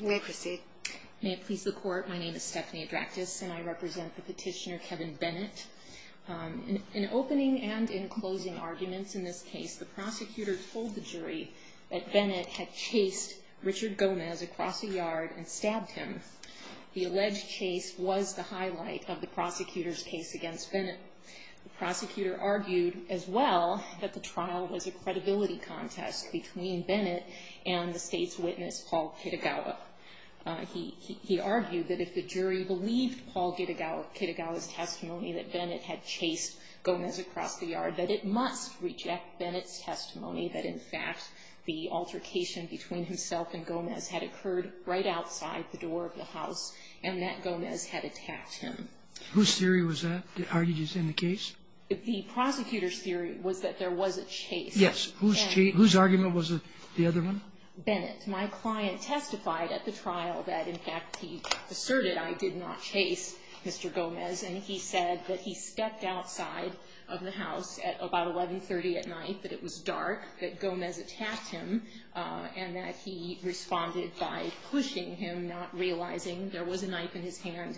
May it please the Court, my name is Stephanie Adraktis and I represent the petitioner Kevin Bennett. In opening and in closing arguments in this case, the prosecutor told the jury that Bennett had chased Richard Gomez across a yard and stabbed him. The alleged chase was the highlight of the prosecutor's case against Bennett. The prosecutor argued as well that the trial was a credibility contest between Bennett and the State's witness, Paul Kitagawa. He argued that if the jury believed Paul Kitagawa's testimony that Bennett had chased Gomez across the yard, that it must reject Bennett's testimony that in fact the altercation between himself and Gomez had occurred right outside the door of the house and that Gomez had attacked him. Whose theory was that? Are you just saying the case? The prosecutor's theory was that there was a chase. Yes. Whose argument was the other one? Bennett. My client testified at the trial that in fact he asserted I did not chase Mr. Gomez and he said that he stepped outside of the house at about 1130 at night, that it was dark, that Gomez attacked him, and that he responded by pushing him, not realizing there was a knife in his hand.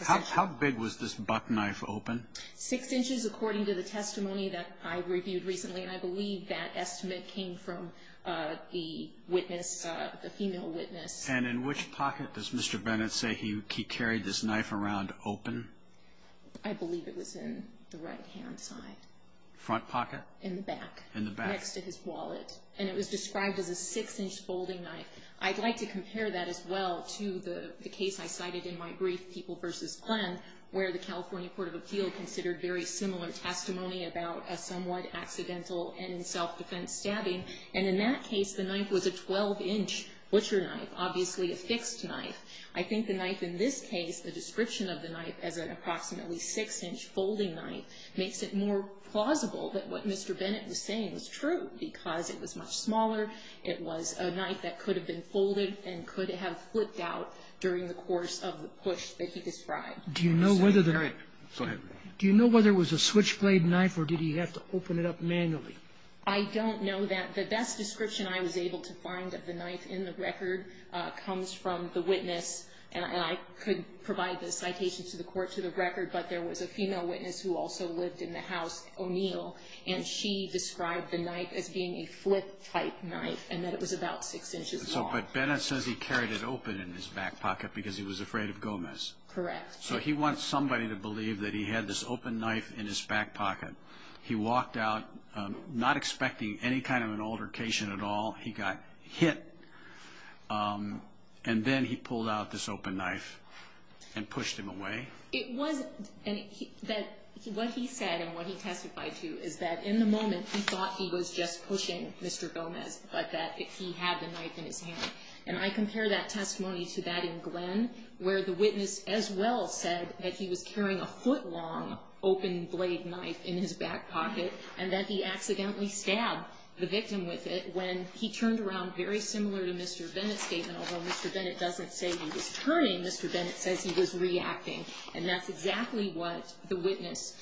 How big was this buck knife open? Six inches according to the testimony that I reviewed recently, and I believe that estimate came from the witness, the female witness. And in which pocket does Mr. Bennett say he carried this knife around open? I believe it was in the right-hand side. Front pocket? In the back. In the back. Next to his wallet. And it was described as a six-inch folding knife. I'd like to compare that as well to the case I cited in my brief, People v. Glenn, where the California Court of Appeal considered very similar testimony about a somewhat accidental and self-defense stabbing, and in that case the knife was a 12-inch butcher knife, obviously a fixed knife. I think the knife in this case, the description of the knife as an approximately six-inch folding knife, makes it more plausible that what Mr. Bennett was saying was true, because it was much smaller, it was a knife that could have been folded and could have flipped out during the course of the push that he described. Do you know whether there was a switchblade knife, or did he have to open it up manually? I don't know that. The best description I was able to find of the knife in the record comes from the witness, and I could provide the citation to the Court to the record, but there was a female witness who also lived in the house, O'Neill, and she described the knife as being a flip-type knife, and that it was about six inches long. But Bennett says he carried it open in his back pocket because he was afraid of Gomez. So he wants somebody to believe that he had this open knife in his back pocket. He walked out not expecting any kind of an altercation at all. He got hit, and then he pulled out this open knife and pushed him away. What he said and what he testified to is that in the moment he thought he was just pushing Mr. Gomez, but that he had the knife in his hand. And I compare that testimony to that in Glenn, where the witness as well said that he was carrying a foot-long open blade knife in his back pocket, and that he accidentally stabbed the victim with it when he turned around, very similar to Mr. Bennett's statement. Although Mr. Bennett doesn't say he was turning, Mr. Bennett says he was reacting. And that's exactly what the witness,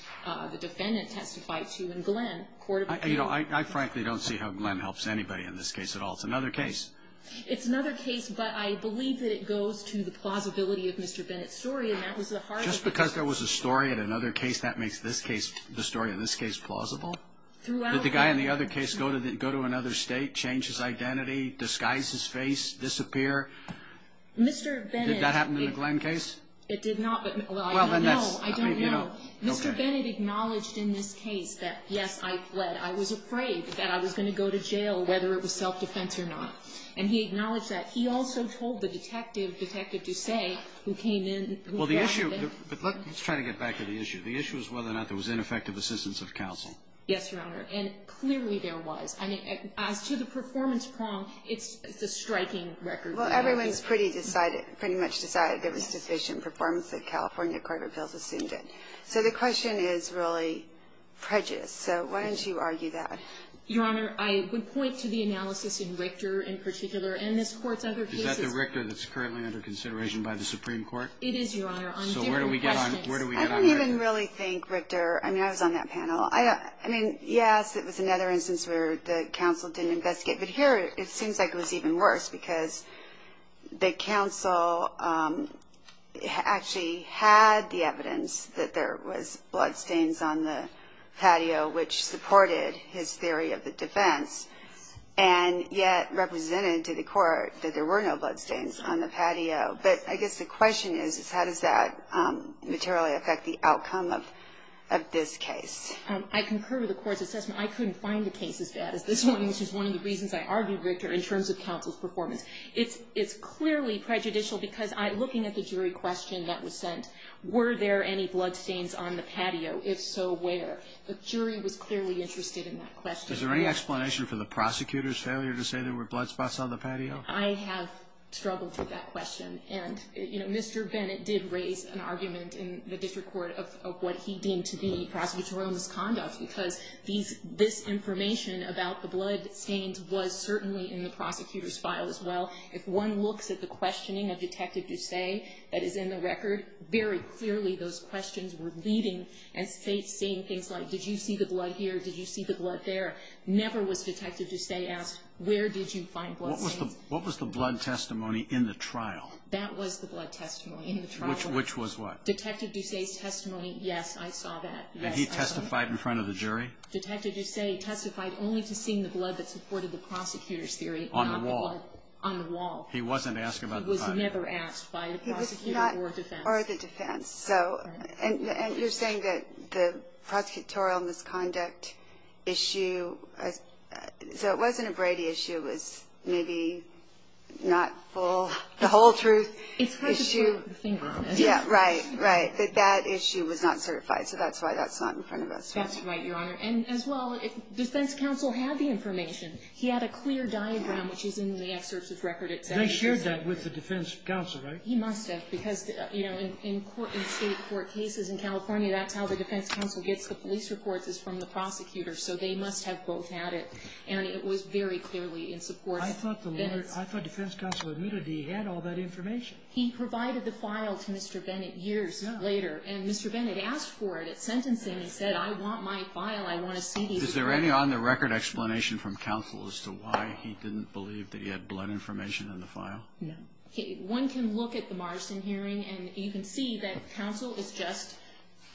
the defendant, testified to in Glenn. I frankly don't see how Glenn helps anybody in this case at all. It's another case. It's another case, but I believe that it goes to the plausibility of Mr. Bennett's story, and that was the heart of it. Just because there was a story in another case, that makes this case, the story in this case, plausible? Throughout. Did the guy in the other case go to another state, change his identity, disguise his face, disappear? Mr. Bennett. Did that happen in the Glenn case? It did not, but I don't know. Well, then that's, I mean, you know, okay. Mr. Bennett acknowledged in this case that, yes, I fled. I was afraid that I was going to go to jail, whether it was self-defense or not. And he acknowledged that. He also told the detective, Detective Ducey, who came in. Well, the issue, but let's try to get back to the issue. The issue is whether or not there was ineffective assistance of counsel. Yes, Your Honor. And clearly there was. I mean, as to the performance prong, it's a striking record. Well, everyone's pretty decided, pretty much decided there was sufficient performance that California court of appeals assumed it. So the question is really prejudiced. So why don't you argue that? Your Honor, I would point to the analysis in Richter, in particular, and this court's other cases. Is that the Richter that's currently under consideration by the Supreme Court? It is, Your Honor. So where do we get on Richter? I don't even really think Richter, I mean, I was on that panel. I mean, yes, it was another instance where the counsel didn't investigate. But here it seems like it was even worse because the counsel actually had the evidence that there was bloodstains on the patio, which supported his theory of the defense, and yet represented to the court that there were no bloodstains on the patio. But I guess the question is, is how does that materially affect the outcome of this case? I concur with the court's assessment. I couldn't find a case as bad as this one, which is one of the reasons I argued Richter in terms of counsel's performance. It's clearly prejudicial because looking at the jury question that was sent, were there any bloodstains on the patio? If so, where? The jury was clearly interested in that question. Is there any explanation for the prosecutor's failure to say there were blood spots on the patio? I have struggled with that question. And, you know, Mr. Bennett did raise an argument in the district court of what he deemed to be prosecutorial misconduct because this information about the bloodstains was certainly in the prosecutor's file as well. If one looks at the questioning of Detective Ducey that is in the record, very clearly those questions were leading and seeing things like, did you see the blood here? Did you see the blood there? Never was Detective Ducey asked, where did you find bloodstains? What was the blood testimony in the trial? That was the blood testimony in the trial. Which was what? Detective Ducey's testimony, yes, I saw that. And he testified in front of the jury? Detective Ducey testified only to seeing the blood that supported the prosecutor's theory. On the wall? On the wall. He wasn't asking about the patio? He was never asked by the prosecutor or defense. Or the defense. And you're saying that the prosecutorial misconduct issue, so it wasn't a Brady issue, it was maybe not full, the whole truth issue. It's kind of the finger. Yeah, right, right. That that issue was not certified. So that's why that's not in front of us. That's right, Your Honor. And as well, defense counsel had the information. He had a clear diagram, which is in the exercise record. And they shared that with the defense counsel, right? He must have, because, you know, in court, in State court cases in California, that's how the defense counsel gets the police reports is from the prosecutor. So they must have both had it. And it was very clearly in support of this. I thought the lawyer, I thought defense counsel admitted he had all that information. He provided the file to Mr. Bennett years later. And Mr. Bennett asked for it at sentencing. He said, I want my file. I want a CD. Is there any on-the-record explanation from counsel as to why he didn't believe that he had blood information in the file? No. One can look at the Marsden hearing, and you can see that counsel is just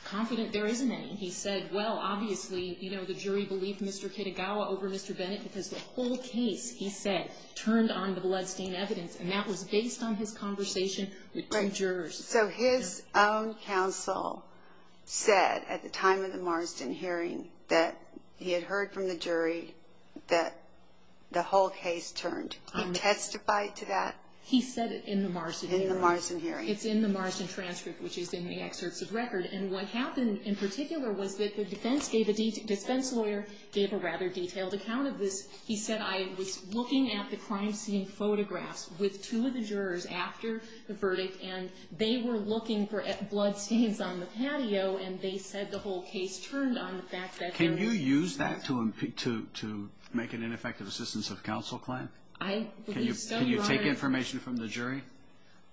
confident there isn't any. He said, well, obviously, you know, the jury believed Mr. Kitagawa over Mr. Bennett because the whole case, he said, turned on the bloodstain evidence. And that was based on his conversation with two jurors. So his own counsel said, at the time of the Marsden hearing, that he had heard from the jury that the whole case turned. He testified to that? He said it in the Marsden hearing. In the Marsden hearing. It's in the Marsden transcript, which is in the excerpts of record. And what happened in particular was that the defense lawyer gave a rather detailed account of this. He said, I was looking at the crime scene photographs with two of the jurors after the verdict, and they were looking for bloodstains on the patio, and they said the whole case turned on the fact that there were bloodstains. Can you use that to make an ineffective assistance of counsel claim? I believe so, Your Honor. Can you take information from the jury?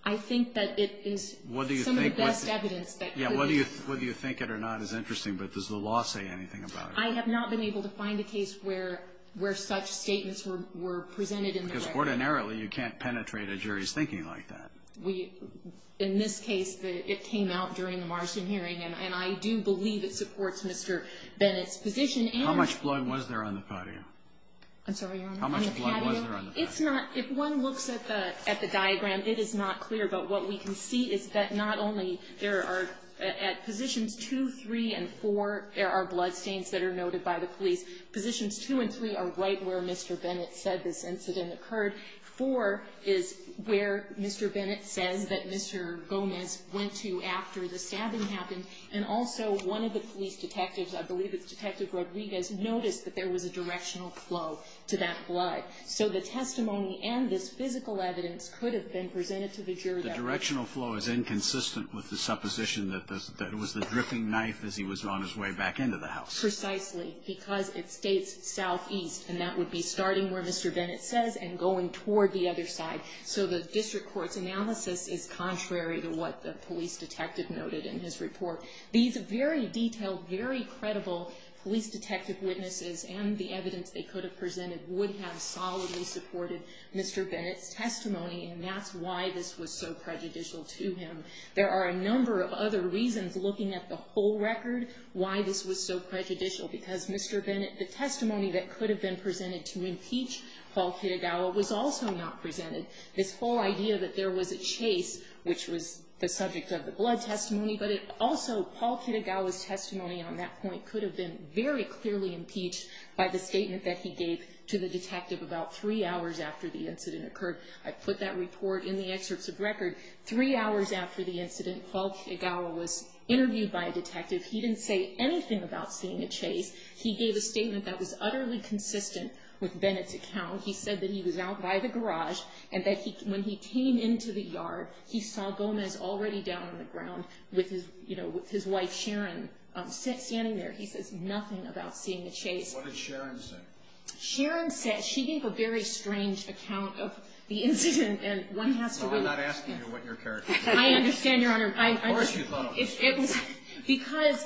I think that it is some of the best evidence that could be used. Yeah, whether you think it or not is interesting, but does the law say anything about it? Because ordinarily you can't penetrate a jury's thinking like that. In this case, it came out during the Marsden hearing, and I do believe it supports Mr. Bennett's position. How much blood was there on the patio? I'm sorry, Your Honor? How much blood was there on the patio? If one looks at the diagram, it is not clear, but what we can see is that not only there are at positions two, three, and four there are bloodstains that are noted by the police. Positions two and three are right where Mr. Bennett said this incident occurred. Four is where Mr. Bennett says that Mr. Gomez went to after the stabbing happened, and also one of the police detectives, I believe it's Detective Rodriguez, noticed that there was a directional flow to that blood. So the testimony and this physical evidence could have been presented to the jury. The directional flow is inconsistent with the supposition that it was the dripping knife as he was on his way back into the house. Precisely because it states southeast, and that would be starting where Mr. Bennett says and going toward the other side. So the district court's analysis is contrary to what the police detective noted in his report. These very detailed, very credible police detective witnesses and the evidence they could have presented would have solidly supported Mr. Bennett's testimony, and that's why this was so prejudicial to him. There are a number of other reasons looking at the whole record why this was so prejudicial, because Mr. Bennett, the testimony that could have been presented to impeach Paul Kitagawa was also not presented. This whole idea that there was a chase, which was the subject of the blood testimony, but also Paul Kitagawa's testimony on that point could have been very clearly impeached by the statement that he gave to the detective about three hours after the incident occurred. I put that report in the excerpts of record. Three hours after the incident, Paul Kitagawa was interviewed by a detective. He didn't say anything about seeing a chase. He gave a statement that was utterly consistent with Bennett's account. He said that he was out by the garage and that when he came into the yard, he saw Gomez already down on the ground with his wife Sharon standing there. He says nothing about seeing a chase. What did Sharon say? Sharon said she gave a very strange account of the incident. No, I'm not asking you what your character was. I understand, Your Honor. Of course you thought it was Sharon. Because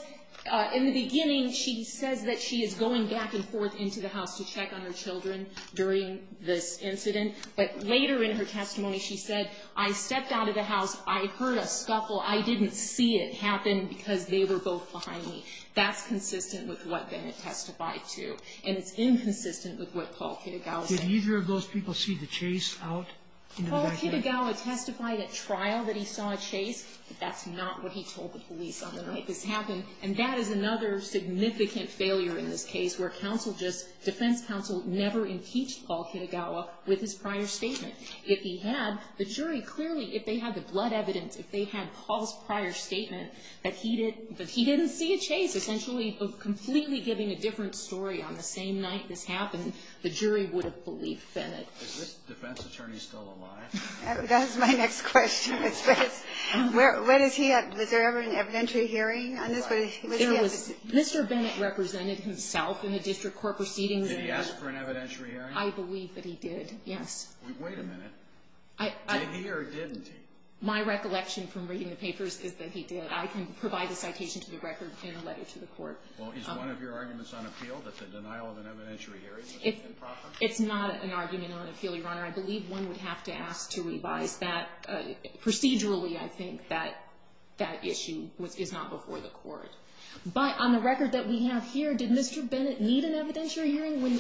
in the beginning she says that she is going back and forth into the house to check on her children during this incident, but later in her testimony she said, I stepped out of the house, I heard a scuffle, I didn't see it happen because they were both behind me. That's consistent with what Bennett testified to. And it's inconsistent with what Paul Kitagawa said. Did either of those people see the chase out in the backyard? Paul Kitagawa testified at trial that he saw a chase, but that's not what he told the police on the night this happened. And that is another significant failure in this case, where defense counsel never impeached Paul Kitagawa with his prior statement. If he had, the jury clearly, if they had the blood evidence, if they had Paul's prior statement that he didn't see a chase, essentially completely giving a different story on the same night this happened, the jury would have believed Bennett. Is this defense attorney still alive? That is my next question. Was there ever an evidentiary hearing on this? Mr. Bennett represented himself in the district court proceedings. Did he ask for an evidentiary hearing? I believe that he did, yes. Wait a minute. Did he or didn't he? My recollection from reading the papers is that he did. But I can provide the citation to the record in a letter to the court. Well, is one of your arguments on appeal that the denial of an evidentiary hearing is improper? It's not an argument on appeal, Your Honor. I believe one would have to ask to revise that procedurally, I think, that that issue is not before the court. But on the record that we have here, did Mr. Bennett need an evidentiary hearing?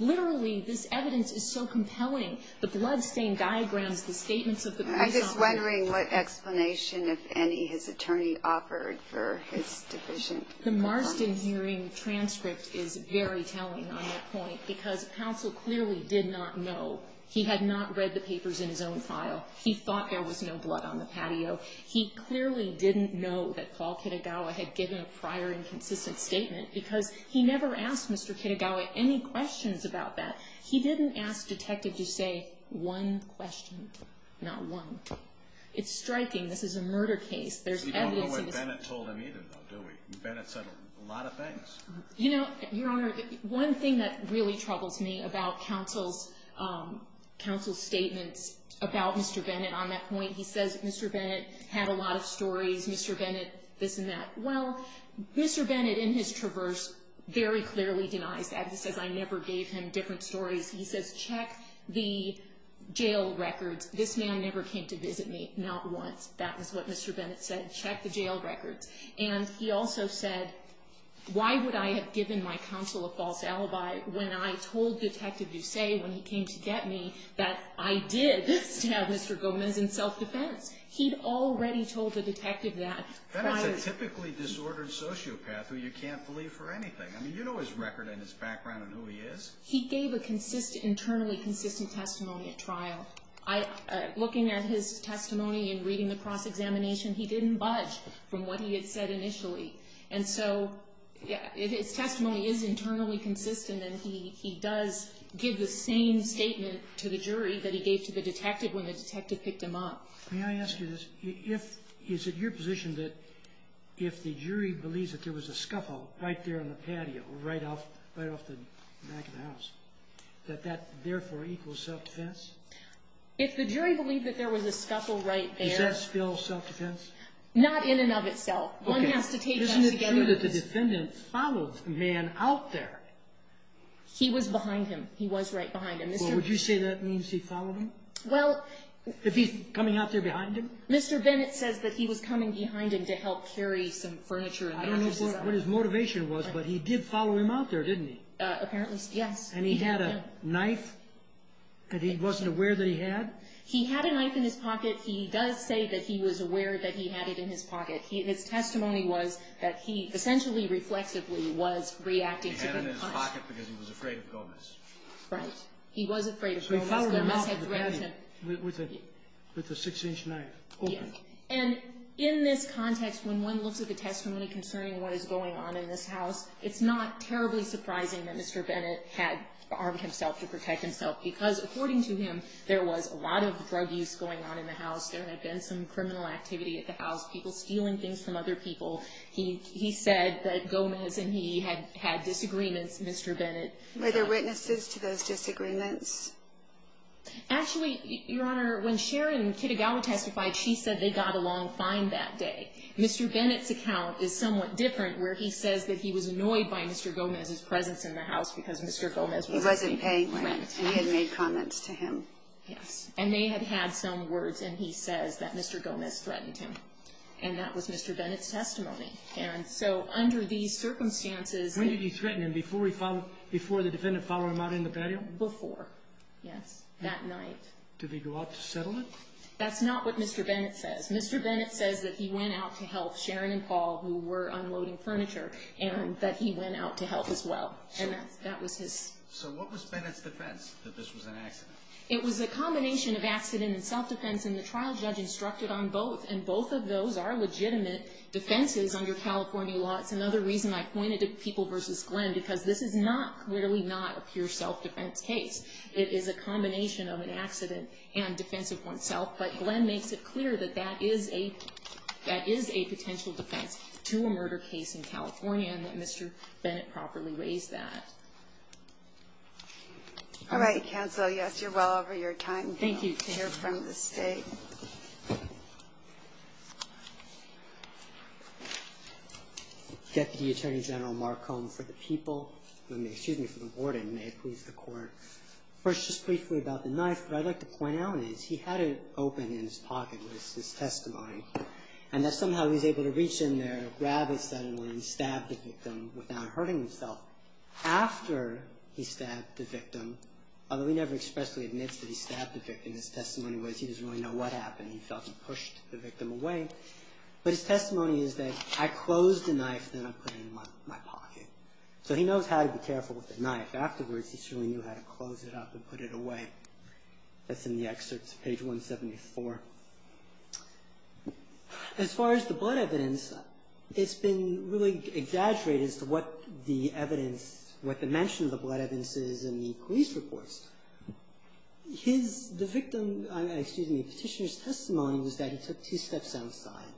Literally, this evidence is so compelling. The bloodstain diagrams, the statements of the person. I'm just wondering what explanation, if any, his attorney offered for his division. The Marsden hearing transcript is very telling on that point because counsel clearly did not know. He had not read the papers in his own file. He thought there was no blood on the patio. He clearly didn't know that Paul Kitagawa had given a prior inconsistent statement because he never asked Mr. Kitagawa any questions about that. He didn't ask Detective to say one question, not one. It's striking. This is a murder case. You don't know what Bennett told him either, though, do we? Bennett said a lot of things. You know, Your Honor, one thing that really troubles me about counsel's statements about Mr. Bennett on that point, he says Mr. Bennett had a lot of stories, Mr. Bennett, this and that. Well, Mr. Bennett, in his traverse, very clearly denies that. He says I never gave him different stories. He says check the jail records. This man never came to visit me, not once. That was what Mr. Bennett said, check the jail records. And he also said why would I have given my counsel a false alibi when I told Detective Ducey when he came to get me that I did this to have Mr. Gomez in self-defense? He'd already told the Detective that prior. Bennett's a typically disordered sociopath who you can't believe for anything. I mean, you know his record and his background and who he is. He gave an internally consistent testimony at trial. Looking at his testimony and reading the cross-examination, he didn't budge from what he had said initially. And so his testimony is internally consistent, and he does give the same statement to the jury that he gave to the detective when the detective picked him up. May I ask you this? Is it your position that if the jury believes that there was a scuffle right there on the patio, right off the back of the house, that that therefore equals self-defense? If the jury believed that there was a scuffle right there. Is that still self-defense? Not in and of itself. One has to take that together. Isn't it true that the defendant followed the man out there? He was behind him. He was right behind him. Well, would you say that means he followed him? If he's coming out there behind him? Mr. Bennett says that he was coming behind him to help carry some furniture. I don't know what his motivation was, but he did follow him out there, didn't he? Apparently, yes. And he had a knife that he wasn't aware that he had? He had a knife in his pocket. He does say that he was aware that he had it in his pocket. His testimony was that he essentially reflexively was reacting to being punched. He had it in his pocket because he was afraid of Gomez. Right. He was afraid of Gomez. With a 6-inch knife. And in this context, when one looks at the testimony concerning what is going on in this house, it's not terribly surprising that Mr. Bennett had armed himself to protect himself because, according to him, there was a lot of drug use going on in the house. There had been some criminal activity at the house, people stealing things from other people. He said that Gomez and he had disagreements, Mr. Bennett. Were there witnesses to those disagreements? Actually, Your Honor, when Sharon Kitagawa testified, she said they got along fine that day. Mr. Bennett's account is somewhat different, where he says that he was annoyed by Mr. Gomez's presence in the house because Mr. Gomez was a thief. He wasn't paying rent, and he had made comments to him. Yes. And they had had some words, and he says that Mr. Gomez threatened him. And that was Mr. Bennett's testimony. And so, under these circumstances, When did he threaten him, before the defendant followed him out in the patio? Before, yes, that night. Did he go out to settle it? That's not what Mr. Bennett says. Mr. Bennett says that he went out to help Sharon and Paul, who were unloading furniture, and that he went out to help as well, and that was his. So what was Bennett's defense, that this was an accident? It was a combination of accident and self-defense, and the trial judge instructed on both, and both of those are legitimate defenses under California law. That's another reason I pointed to people versus Glenn, because this is not, clearly not, a pure self-defense case. It is a combination of an accident and defense of oneself, but Glenn makes it clear that that is a potential defense to a murder case in California, and that Mr. Bennett properly weighs that. All right, counsel. Yes, you're well over your time. Thank you. I'd like to hear from the State. Deputy Attorney General Marcon, for the people, excuse me, for the warden, may it please the Court. First, just briefly about the knife. What I'd like to point out is he had it open in his pocket with his testimony, and that somehow he was able to reach in there, grab it suddenly, and stab the victim without hurting himself. After he stabbed the victim, although he never expressly admits that he stabbed the victim, his testimony was he doesn't really know what happened. He felt he pushed the victim away, but his testimony is that, I closed the knife, then I put it in my pocket. So he knows how to be careful with the knife. Afterwards, he certainly knew how to close it up and put it away. That's in the excerpts, page 174. As far as the blood evidence, it's been really exaggerated as to what the evidence, what the mention of the blood evidence is in the police reports. The victim, excuse me, Petitioner's testimony was that he took two steps outside,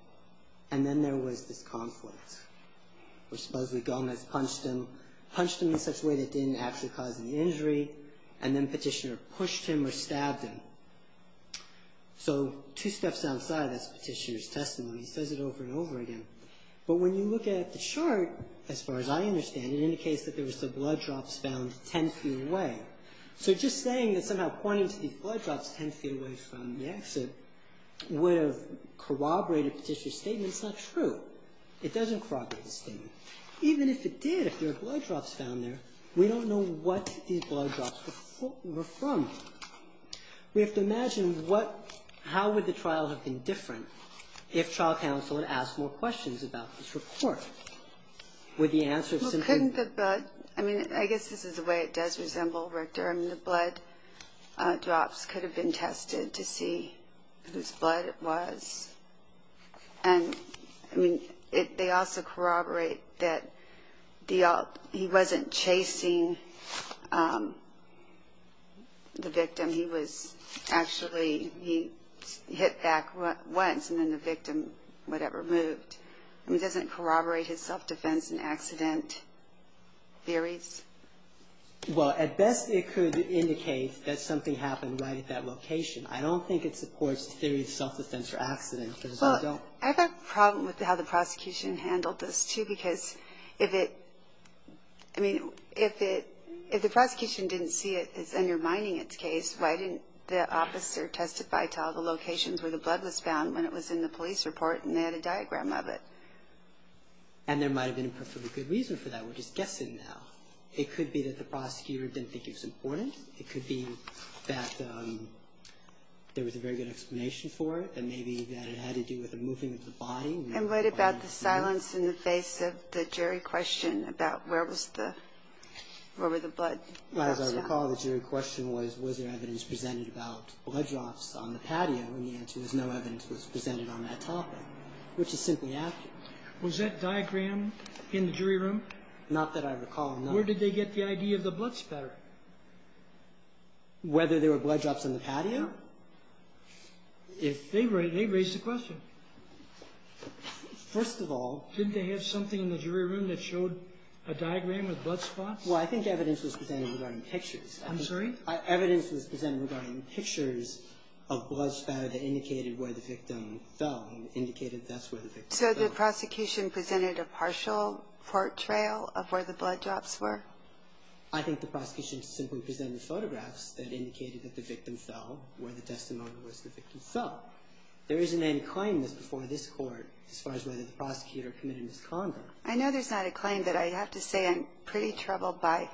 and then there was this conflict, where supposedly Gomez punched him, punched him in such a way that didn't actually cause the injury, and then Petitioner pushed him or stabbed him. So two steps outside, that's Petitioner's testimony. He says it over and over again. But when you look at the chart, as far as I understand it, it indicates that there was the blood drops found 10 feet away. So just saying that somehow pointing to these blood drops 10 feet away from the exit would have corroborated Petitioner's statement is not true. It doesn't corroborate the statement. Even if it did, if there were blood drops found there, we don't know what these blood drops were from. We have to imagine how would the trial have been different if trial counsel had asked more questions about this report. Would the answer have simply... Well, couldn't the blood, I mean, I guess this is the way it does resemble Richter. I mean, the blood drops could have been tested to see whose blood it was. And, I mean, they also corroborate that he wasn't chasing the victim. He was actually, he hit back once, and then the victim, whatever, moved. I mean, doesn't it corroborate his self-defense and accident theories? Well, at best it could indicate that something happened right at that location. I don't think it supports the theory of self-defense or accident. Well, I've got a problem with how the prosecution handled this, too, because if it, I mean, if the prosecution didn't see it as undermining its case, why didn't the officer testify to all the locations where the blood was found when it was in the police report and they had a diagram of it? And there might have been a perfectly good reason for that. We're just guessing now. It could be that the prosecutor didn't think it was important. It could be that there was a very good explanation for it and maybe that it had to do with the moving of the body. And what about the silence in the face of the jury question about where was the, where were the blood? As I recall, the jury question was, was there evidence presented about blood drops on the patio? And the answer is no evidence was presented on that topic, which is simply accurate. Was that diagram in the jury room? Not that I recall, no. Where did they get the idea of the blood spatter? Whether there were blood drops on the patio? If they, they raised the question. First of all. Didn't they have something in the jury room that showed a diagram of blood spots? Well, I think evidence was presented regarding pictures. I'm sorry? Evidence was presented regarding pictures of blood spatter that indicated where the victim fell and indicated that's where the victim fell. So the prosecution presented a partial portrayal of where the blood drops were? I think the prosecution simply presented photographs that indicated that the victim fell where the testimony was the victim fell. There isn't any claim before this Court as far as whether the prosecutor committed misconduct. I know there's not a claim, but I have to say I'm pretty troubled by,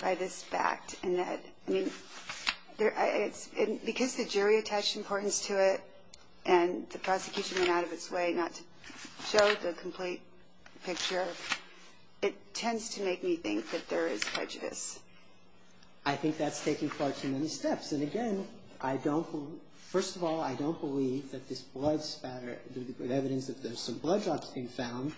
by this fact in that, I mean, there, it's, because the jury attached importance to it and the jury did not show the complete picture. It tends to make me think that there is prejudice. I think that's taking far too many steps. And again, I don't, first of all, I don't believe that this blood spatter, the evidence that there's some blood drops being found,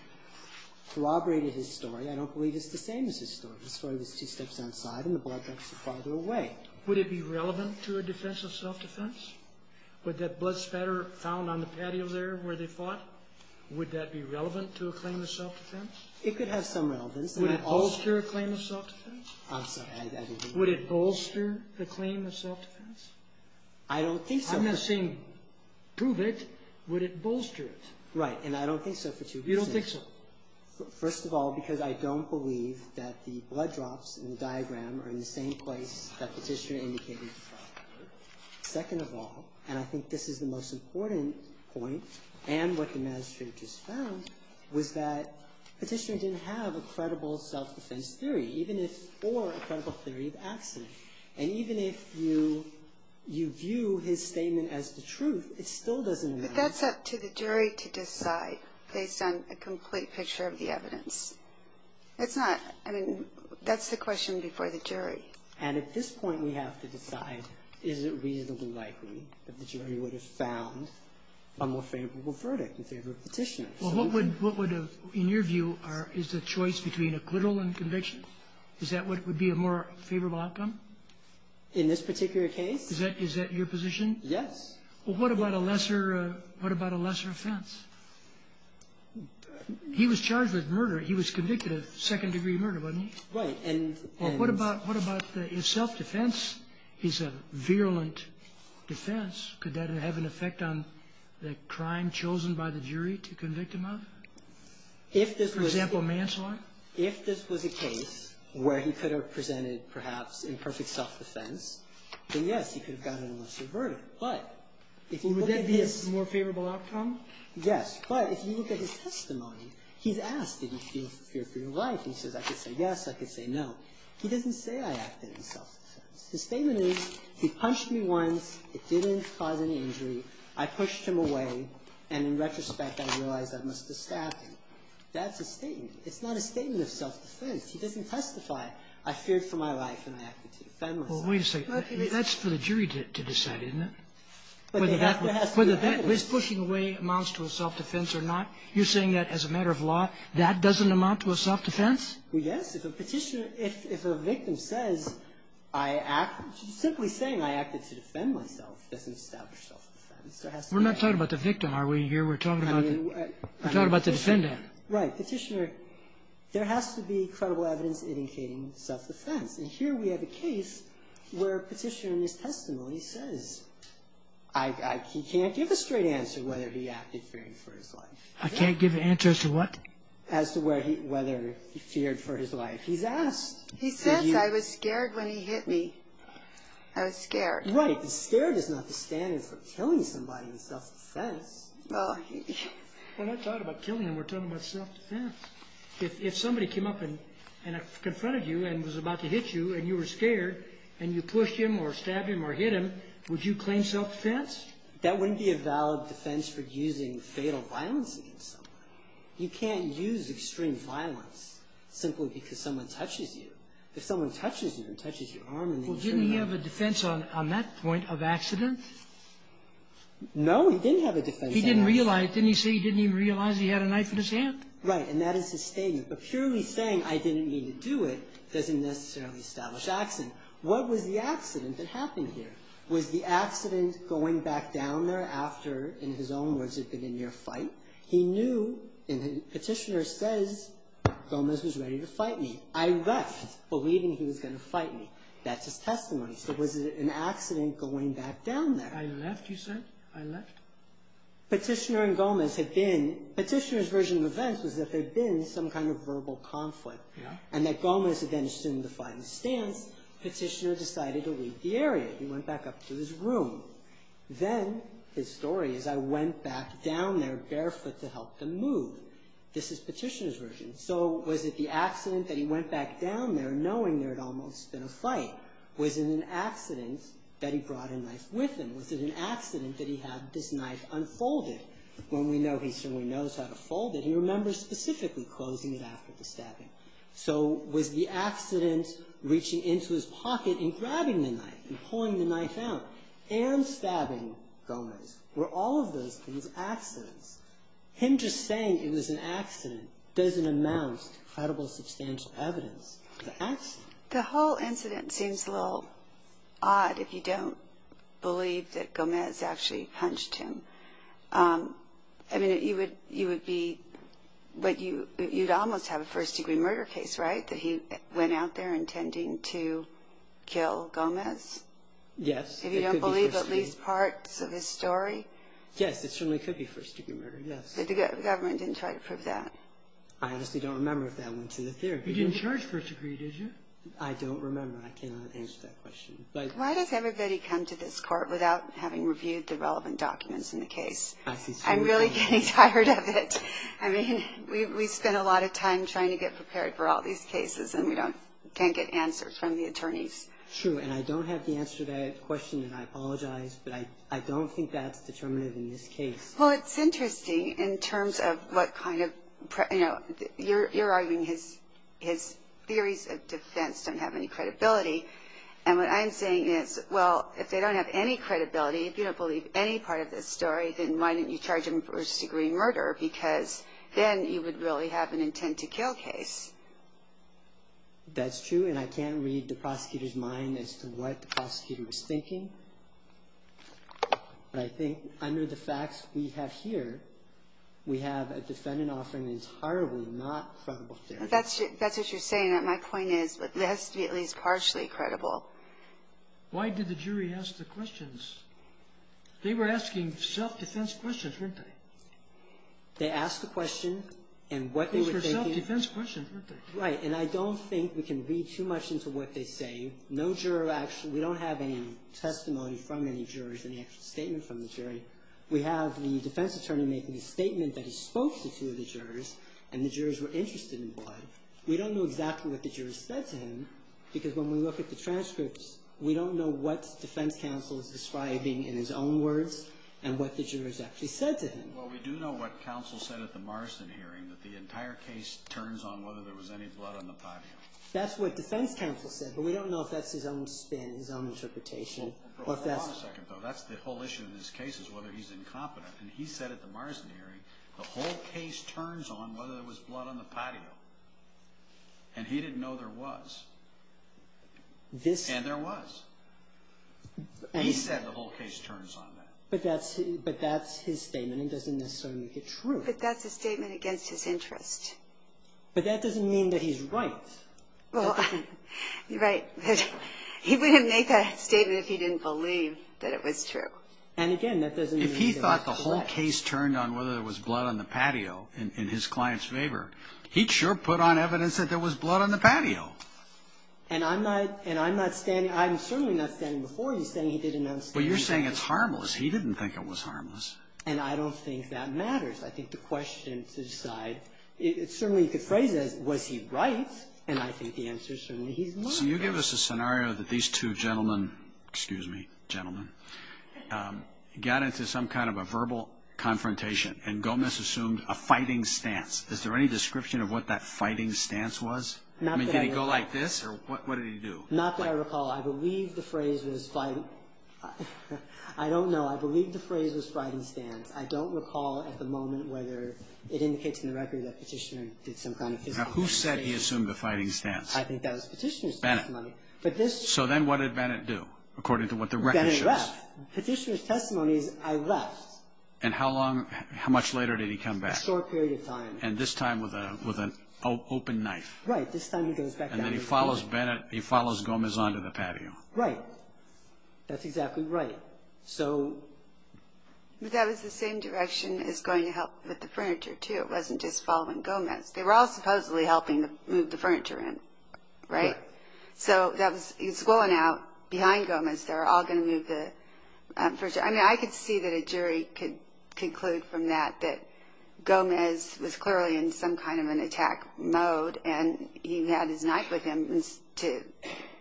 corroborated his story. I don't believe it's the same as his story. His story was two steps outside and the blood drops were farther away. Would it be relevant to a defense of self-defense? Would that blood spatter found on the patio there where they fought, would that be relevant to a claim of self-defense? It could have some relevance. Would it bolster a claim of self-defense? I'm sorry, I didn't hear you. Would it bolster the claim of self-defense? I don't think so. I'm not saying prove it. Would it bolster it? Right. And I don't think so for two reasons. You don't think so? First of all, because I don't believe that the blood drops in the diagram are in the same place that Petitioner indicated they were. Second of all, and I think this is the most important point and what the magistrate just found, was that Petitioner didn't have a credible self-defense theory, even if, or a credible theory of accident. And even if you view his statement as the truth, it still doesn't. But that's up to the jury to decide based on a complete picture of the evidence. It's not, I mean, that's the question before the jury. And at this point, we have to decide, is it reasonably likely that the jury would have found a more favorable verdict in favor of Petitioner? Well, what would, in your view, is the choice between acquittal and conviction? Is that what would be a more favorable outcome? In this particular case? Is that your position? Yes. Well, what about a lesser offense? He was charged with murder. He was convicted of second-degree murder, wasn't he? Right. Well, what about if self-defense is a virulent defense? Could that have an effect on the crime chosen by the jury to convict him of? For example, manslaughter? If this was a case where he could have presented, perhaps, imperfect self-defense, then yes, he could have gotten a lesser verdict. But if you look at his... Would that be a more favorable outcome? Yes. But if you look at his testimony, he's asked, did you fear for your life? He says, I could say yes. I could say no. He doesn't say I acted in self-defense. His statement is, he punched me once. It didn't cause any injury. I pushed him away. And in retrospect, I realize I must have stabbed him. That's his statement. It's not a statement of self-defense. He doesn't testify, I feared for my life and I acted to defend myself. Well, wait a second. That's for the jury to decide, isn't it? Whether that was pushing away amounts to a self-defense or not, you're saying that as a matter of law, that doesn't amount to a self-defense? Well, yes. If a Petitioner, if a victim says I acted, simply saying I acted to defend myself doesn't establish self-defense. We're not talking about the victim, are we, here? We're talking about the defendant. Right. Petitioner, there has to be credible evidence indicating self-defense. And here we have a case where Petitioner in his testimony says, he can't give a straight answer whether he acted fearing for his life. I can't give an answer as to what? As to whether he feared for his life. He's asked. He says, I was scared when he hit me. I was scared. Right. Scared is not the standard for killing somebody in self-defense. Well, he... When I talk about killing him, we're talking about self-defense. If somebody came up and confronted you and was about to hit you and you were scared and you pushed him or stabbed him or hit him, would you claim self-defense? That wouldn't be a valid defense for using fatal violence against someone. You can't use extreme violence simply because someone touches you. If someone touches you and touches your arm... Well, didn't he have a defense on that point of accident? No, he didn't have a defense. He didn't realize. Didn't he say he didn't even realize he had a knife in his hand? Right, and that is his statement. But purely saying, I didn't mean to do it, doesn't necessarily establish accident. What was the accident that happened here? Was the accident going back down there after, in his own words, it had been a near fight? He knew, and the petitioner says, Gomez was ready to fight me. I left believing he was going to fight me. That's his testimony. So was it an accident going back down there? I left, you said? I left? Petitioner and Gomez had been... Petitioner's version of events was that there had been some kind of verbal conflict and that Gomez had then assumed the fighting stance. Petitioner decided to leave the area. He went back up to his room. Then, his story is, I went back down there barefoot to help him move. This is Petitioner's version. So was it the accident that he went back down there knowing there had almost been a fight? Was it an accident that he brought a knife with him? Was it an accident that he had this knife unfolded? When we know he certainly knows how to fold it, he remembers specifically closing it after the stabbing. So was the accident reaching into his pocket and grabbing the knife and pulling the knife out and stabbing Gomez? Were all of those things accidents? Him just saying it was an accident doesn't amount to credible substantial evidence of the accident. The whole incident seems a little odd if you don't believe that Gomez actually punched him. I mean, you would be... You'd almost have a first-degree murder case, right? That he went out there intending to kill Gomez? Yes. If you don't believe at least parts of his story? Yes, it certainly could be first-degree murder, yes. But the government didn't try to prove that? I honestly don't remember if that went to the theory. You didn't charge first-degree, did you? I don't remember. I cannot answer that question. Why does everybody come to this court without having reviewed the relevant documents in the case? I see. I'm really getting tired of it. I mean, we spend a lot of time trying to get prepared for all these cases, and we can't get answers from the attorneys. True, and I don't have the answer to that question, and I apologize, but I don't think that's determinative in this case. Well, it's interesting in terms of what kind of... You're arguing his theories of defense don't have any credibility, and what I'm saying is, well, if they don't have any credibility, if you don't believe any part of this story, then why didn't you charge him first-degree murder? Because then you would really have an intent-to-kill case. That's true, and I can't read the prosecutor's mind as to what the prosecutor was thinking. But I think under the facts we have here, we have a defendant offering that is horribly not credible theory. That's what you're saying. My point is that it has to be at least partially credible. Why did the jury ask the questions? They were asking self-defense questions, weren't they? They asked the question, and what they were thinking... Those were self-defense questions, weren't they? Right, and I don't think we can read too much into what they say. We don't have any testimony from any jurors, any actual statement from the jury. We have the defense attorney making a statement that he spoke to two of the jurors, and the jurors were interested in blood. We don't know exactly what the jurors said to him, because when we look at the transcripts, we don't know what defense counsel is describing in his own words and what the jurors actually said to him. Well, we do know what counsel said at the Marston hearing, that the entire case turns on whether there was any blood on the patio. That's what defense counsel said, but we don't know if that's his own spin, his own interpretation. Hold on a second, though. That's the whole issue in this case is whether he's incompetent, and he said at the Marston hearing, the whole case turns on whether there was blood on the patio, and he didn't know there was. And there was. He said the whole case turns on that. But that's his statement. It doesn't necessarily make it true. But that's a statement against his interest. But that doesn't mean that he's right. Well, right. He wouldn't make that statement if he didn't believe that it was true. And, again, that doesn't mean that it's correct. If he thought the whole case turned on whether there was blood on the patio in his client's favor, he'd sure put on evidence that there was blood on the patio. And I'm not standing – I'm certainly not standing before you saying he didn't understand. But you're saying it's harmless. He didn't think it was harmless. And I don't think that matters. I think the question to decide – certainly you could phrase it as was he right, and I think the answer is certainly he's not right. So you give us a scenario that these two gentlemen – excuse me, gentlemen – got into some kind of a verbal confrontation, and Gomez assumed a fighting stance. Is there any description of what that fighting stance was? I mean, did he go like this, or what did he do? Not that I recall. I believe the phrase was fight – I don't know. I believe the phrase was fighting stance. I don't recall at the moment whether it indicates in the record that Petitioner did some kind of physical – Now, who said he assumed a fighting stance? I think that was Petitioner's testimony. Bennett. But this – So then what did Bennett do, according to what the record shows? Bennett left. Petitioner's testimony is I left. And how long – how much later did he come back? A short period of time. And this time with an open knife. Right. This time he goes back down to court. And then he follows Bennett – he follows Gomez onto the patio. Right. That's exactly right. But that was the same direction as going to help with the furniture, too. It wasn't just following Gomez. They were all supposedly helping move the furniture in, right? Right. So he's going out behind Gomez. They're all going to move the furniture. I mean, I could see that a jury could conclude from that that Gomez was clearly in some kind of an attack mode, and he had his knife with him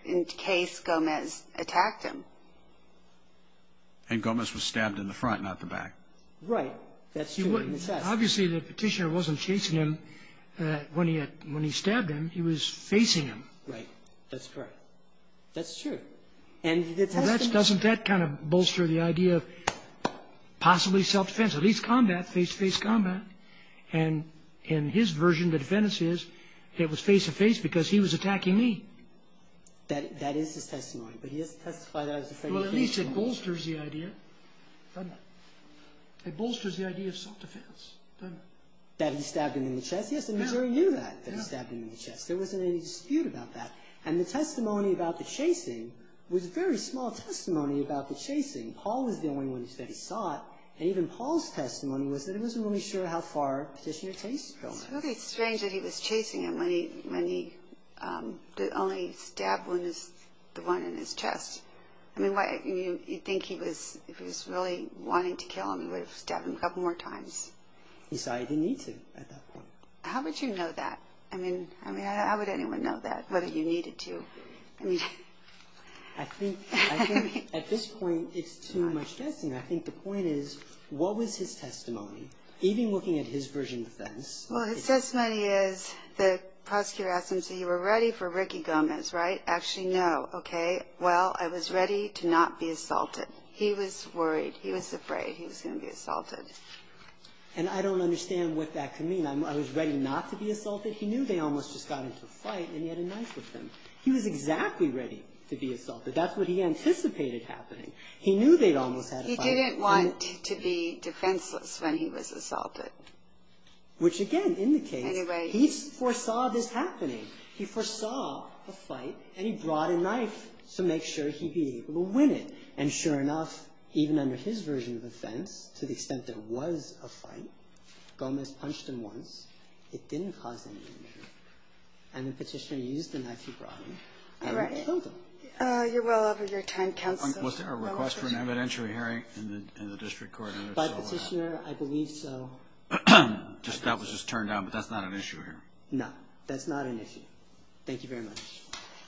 in case Gomez attacked him. And Gomez was stabbed in the front, not the back. Right. That's true. Obviously, the Petitioner wasn't chasing him when he stabbed him. He was facing him. Right. That's correct. That's true. And the testimony – Doesn't that kind of bolster the idea of possibly self-defense? At least combat, face-to-face combat. And in his version, the defense is it was face-to-face because he was attacking me. That is his testimony. But he hasn't testified that it was a self-defense. Well, at least it bolsters the idea, doesn't it? It bolsters the idea of self-defense, doesn't it? That he stabbed him in the chest? Yes, and the jury knew that, that he stabbed him in the chest. There wasn't any dispute about that. And the testimony about the chasing was a very small testimony about the chasing. Paul was the only one who said he saw it. And even Paul's testimony was that he wasn't really sure how far Petitioner Chase had gone. It's really strange that he was chasing him when the only stabbed wound is the one in his chest. I mean, you'd think if he was really wanting to kill him, he would have stabbed him a couple more times. He saw he didn't need to at that point. How would you know that? I mean, how would anyone know that, whether you needed to? I think at this point it's too much guessing. I think the point is, what was his testimony? Even looking at his version of defense. Well, his testimony is the prosecutor asked him, so you were ready for Ricky Gomez, right? Actually, no. Okay, well, I was ready to not be assaulted. He was worried. He was afraid he was going to be assaulted. And I don't understand what that could mean. I was ready not to be assaulted? He knew they almost just got into a fight, and he had a knife with him. He was exactly ready to be assaulted. That's what he anticipated happening. He knew they'd almost had a fight. He didn't want to be defenseless when he was assaulted. Which, again, indicates he foresaw this happening. He foresaw a fight, and he brought a knife to make sure he'd be able to win it. And sure enough, even under his version of offense, to the extent there was a fight, Gomez punched him once. It didn't cause any injury. And the Petitioner used the knife he brought him and killed him. You're well over your time, Counsel. Was there a request for an evidentiary hearing in the district court? By the Petitioner, I believe so. That was just turned down, but that's not an issue here. No, that's not an issue. Thank you very much.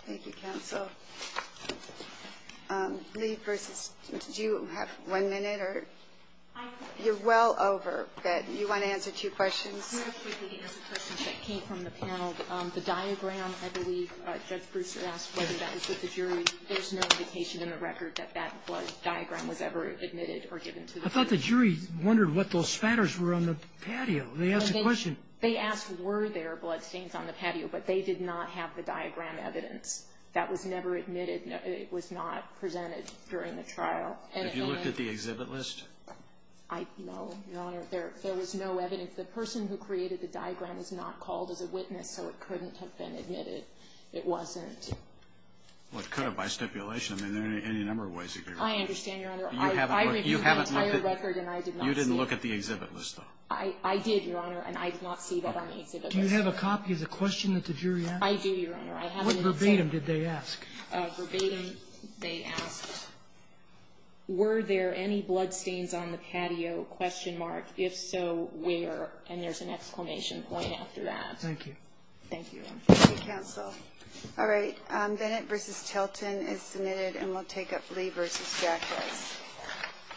Thank you, Counsel. Lee versus Smith, did you have one minute? You're well over, but you want to answer two questions? I'm going to quickly answer questions that came from the panel. The diagram, I believe Judge Brewster asked whether that was with the jury. There's no indication in the record that that blood diagram was ever admitted or given to the jury. I thought the jury wondered what those spatters were on the patio. They asked a question. They asked were there blood stains on the patio, but they did not have the diagram evidence. That was never admitted. It was not presented during the trial. Have you looked at the exhibit list? No, Your Honor. There was no evidence. The person who created the diagram is not called as a witness, so it couldn't have been admitted. It wasn't. Well, it could have by stipulation. I mean, there are any number of ways it could have been. I understand, Your Honor. I reviewed the entire record, and I did not see it. You didn't look at the exhibit list, though? I did, Your Honor, and I did not see that on the exhibit list. Do you have a copy of the question that the jury asked? I do, Your Honor. What verbatim did they ask? Verbatim they asked were there any blood stains on the patio, if so, where? And there's an exclamation point after that. Thank you. Thank you, Your Honor. Thank you, Counsel. All right. Bennett v. Tilton is submitted, and we'll take up Lee v. Jacquez.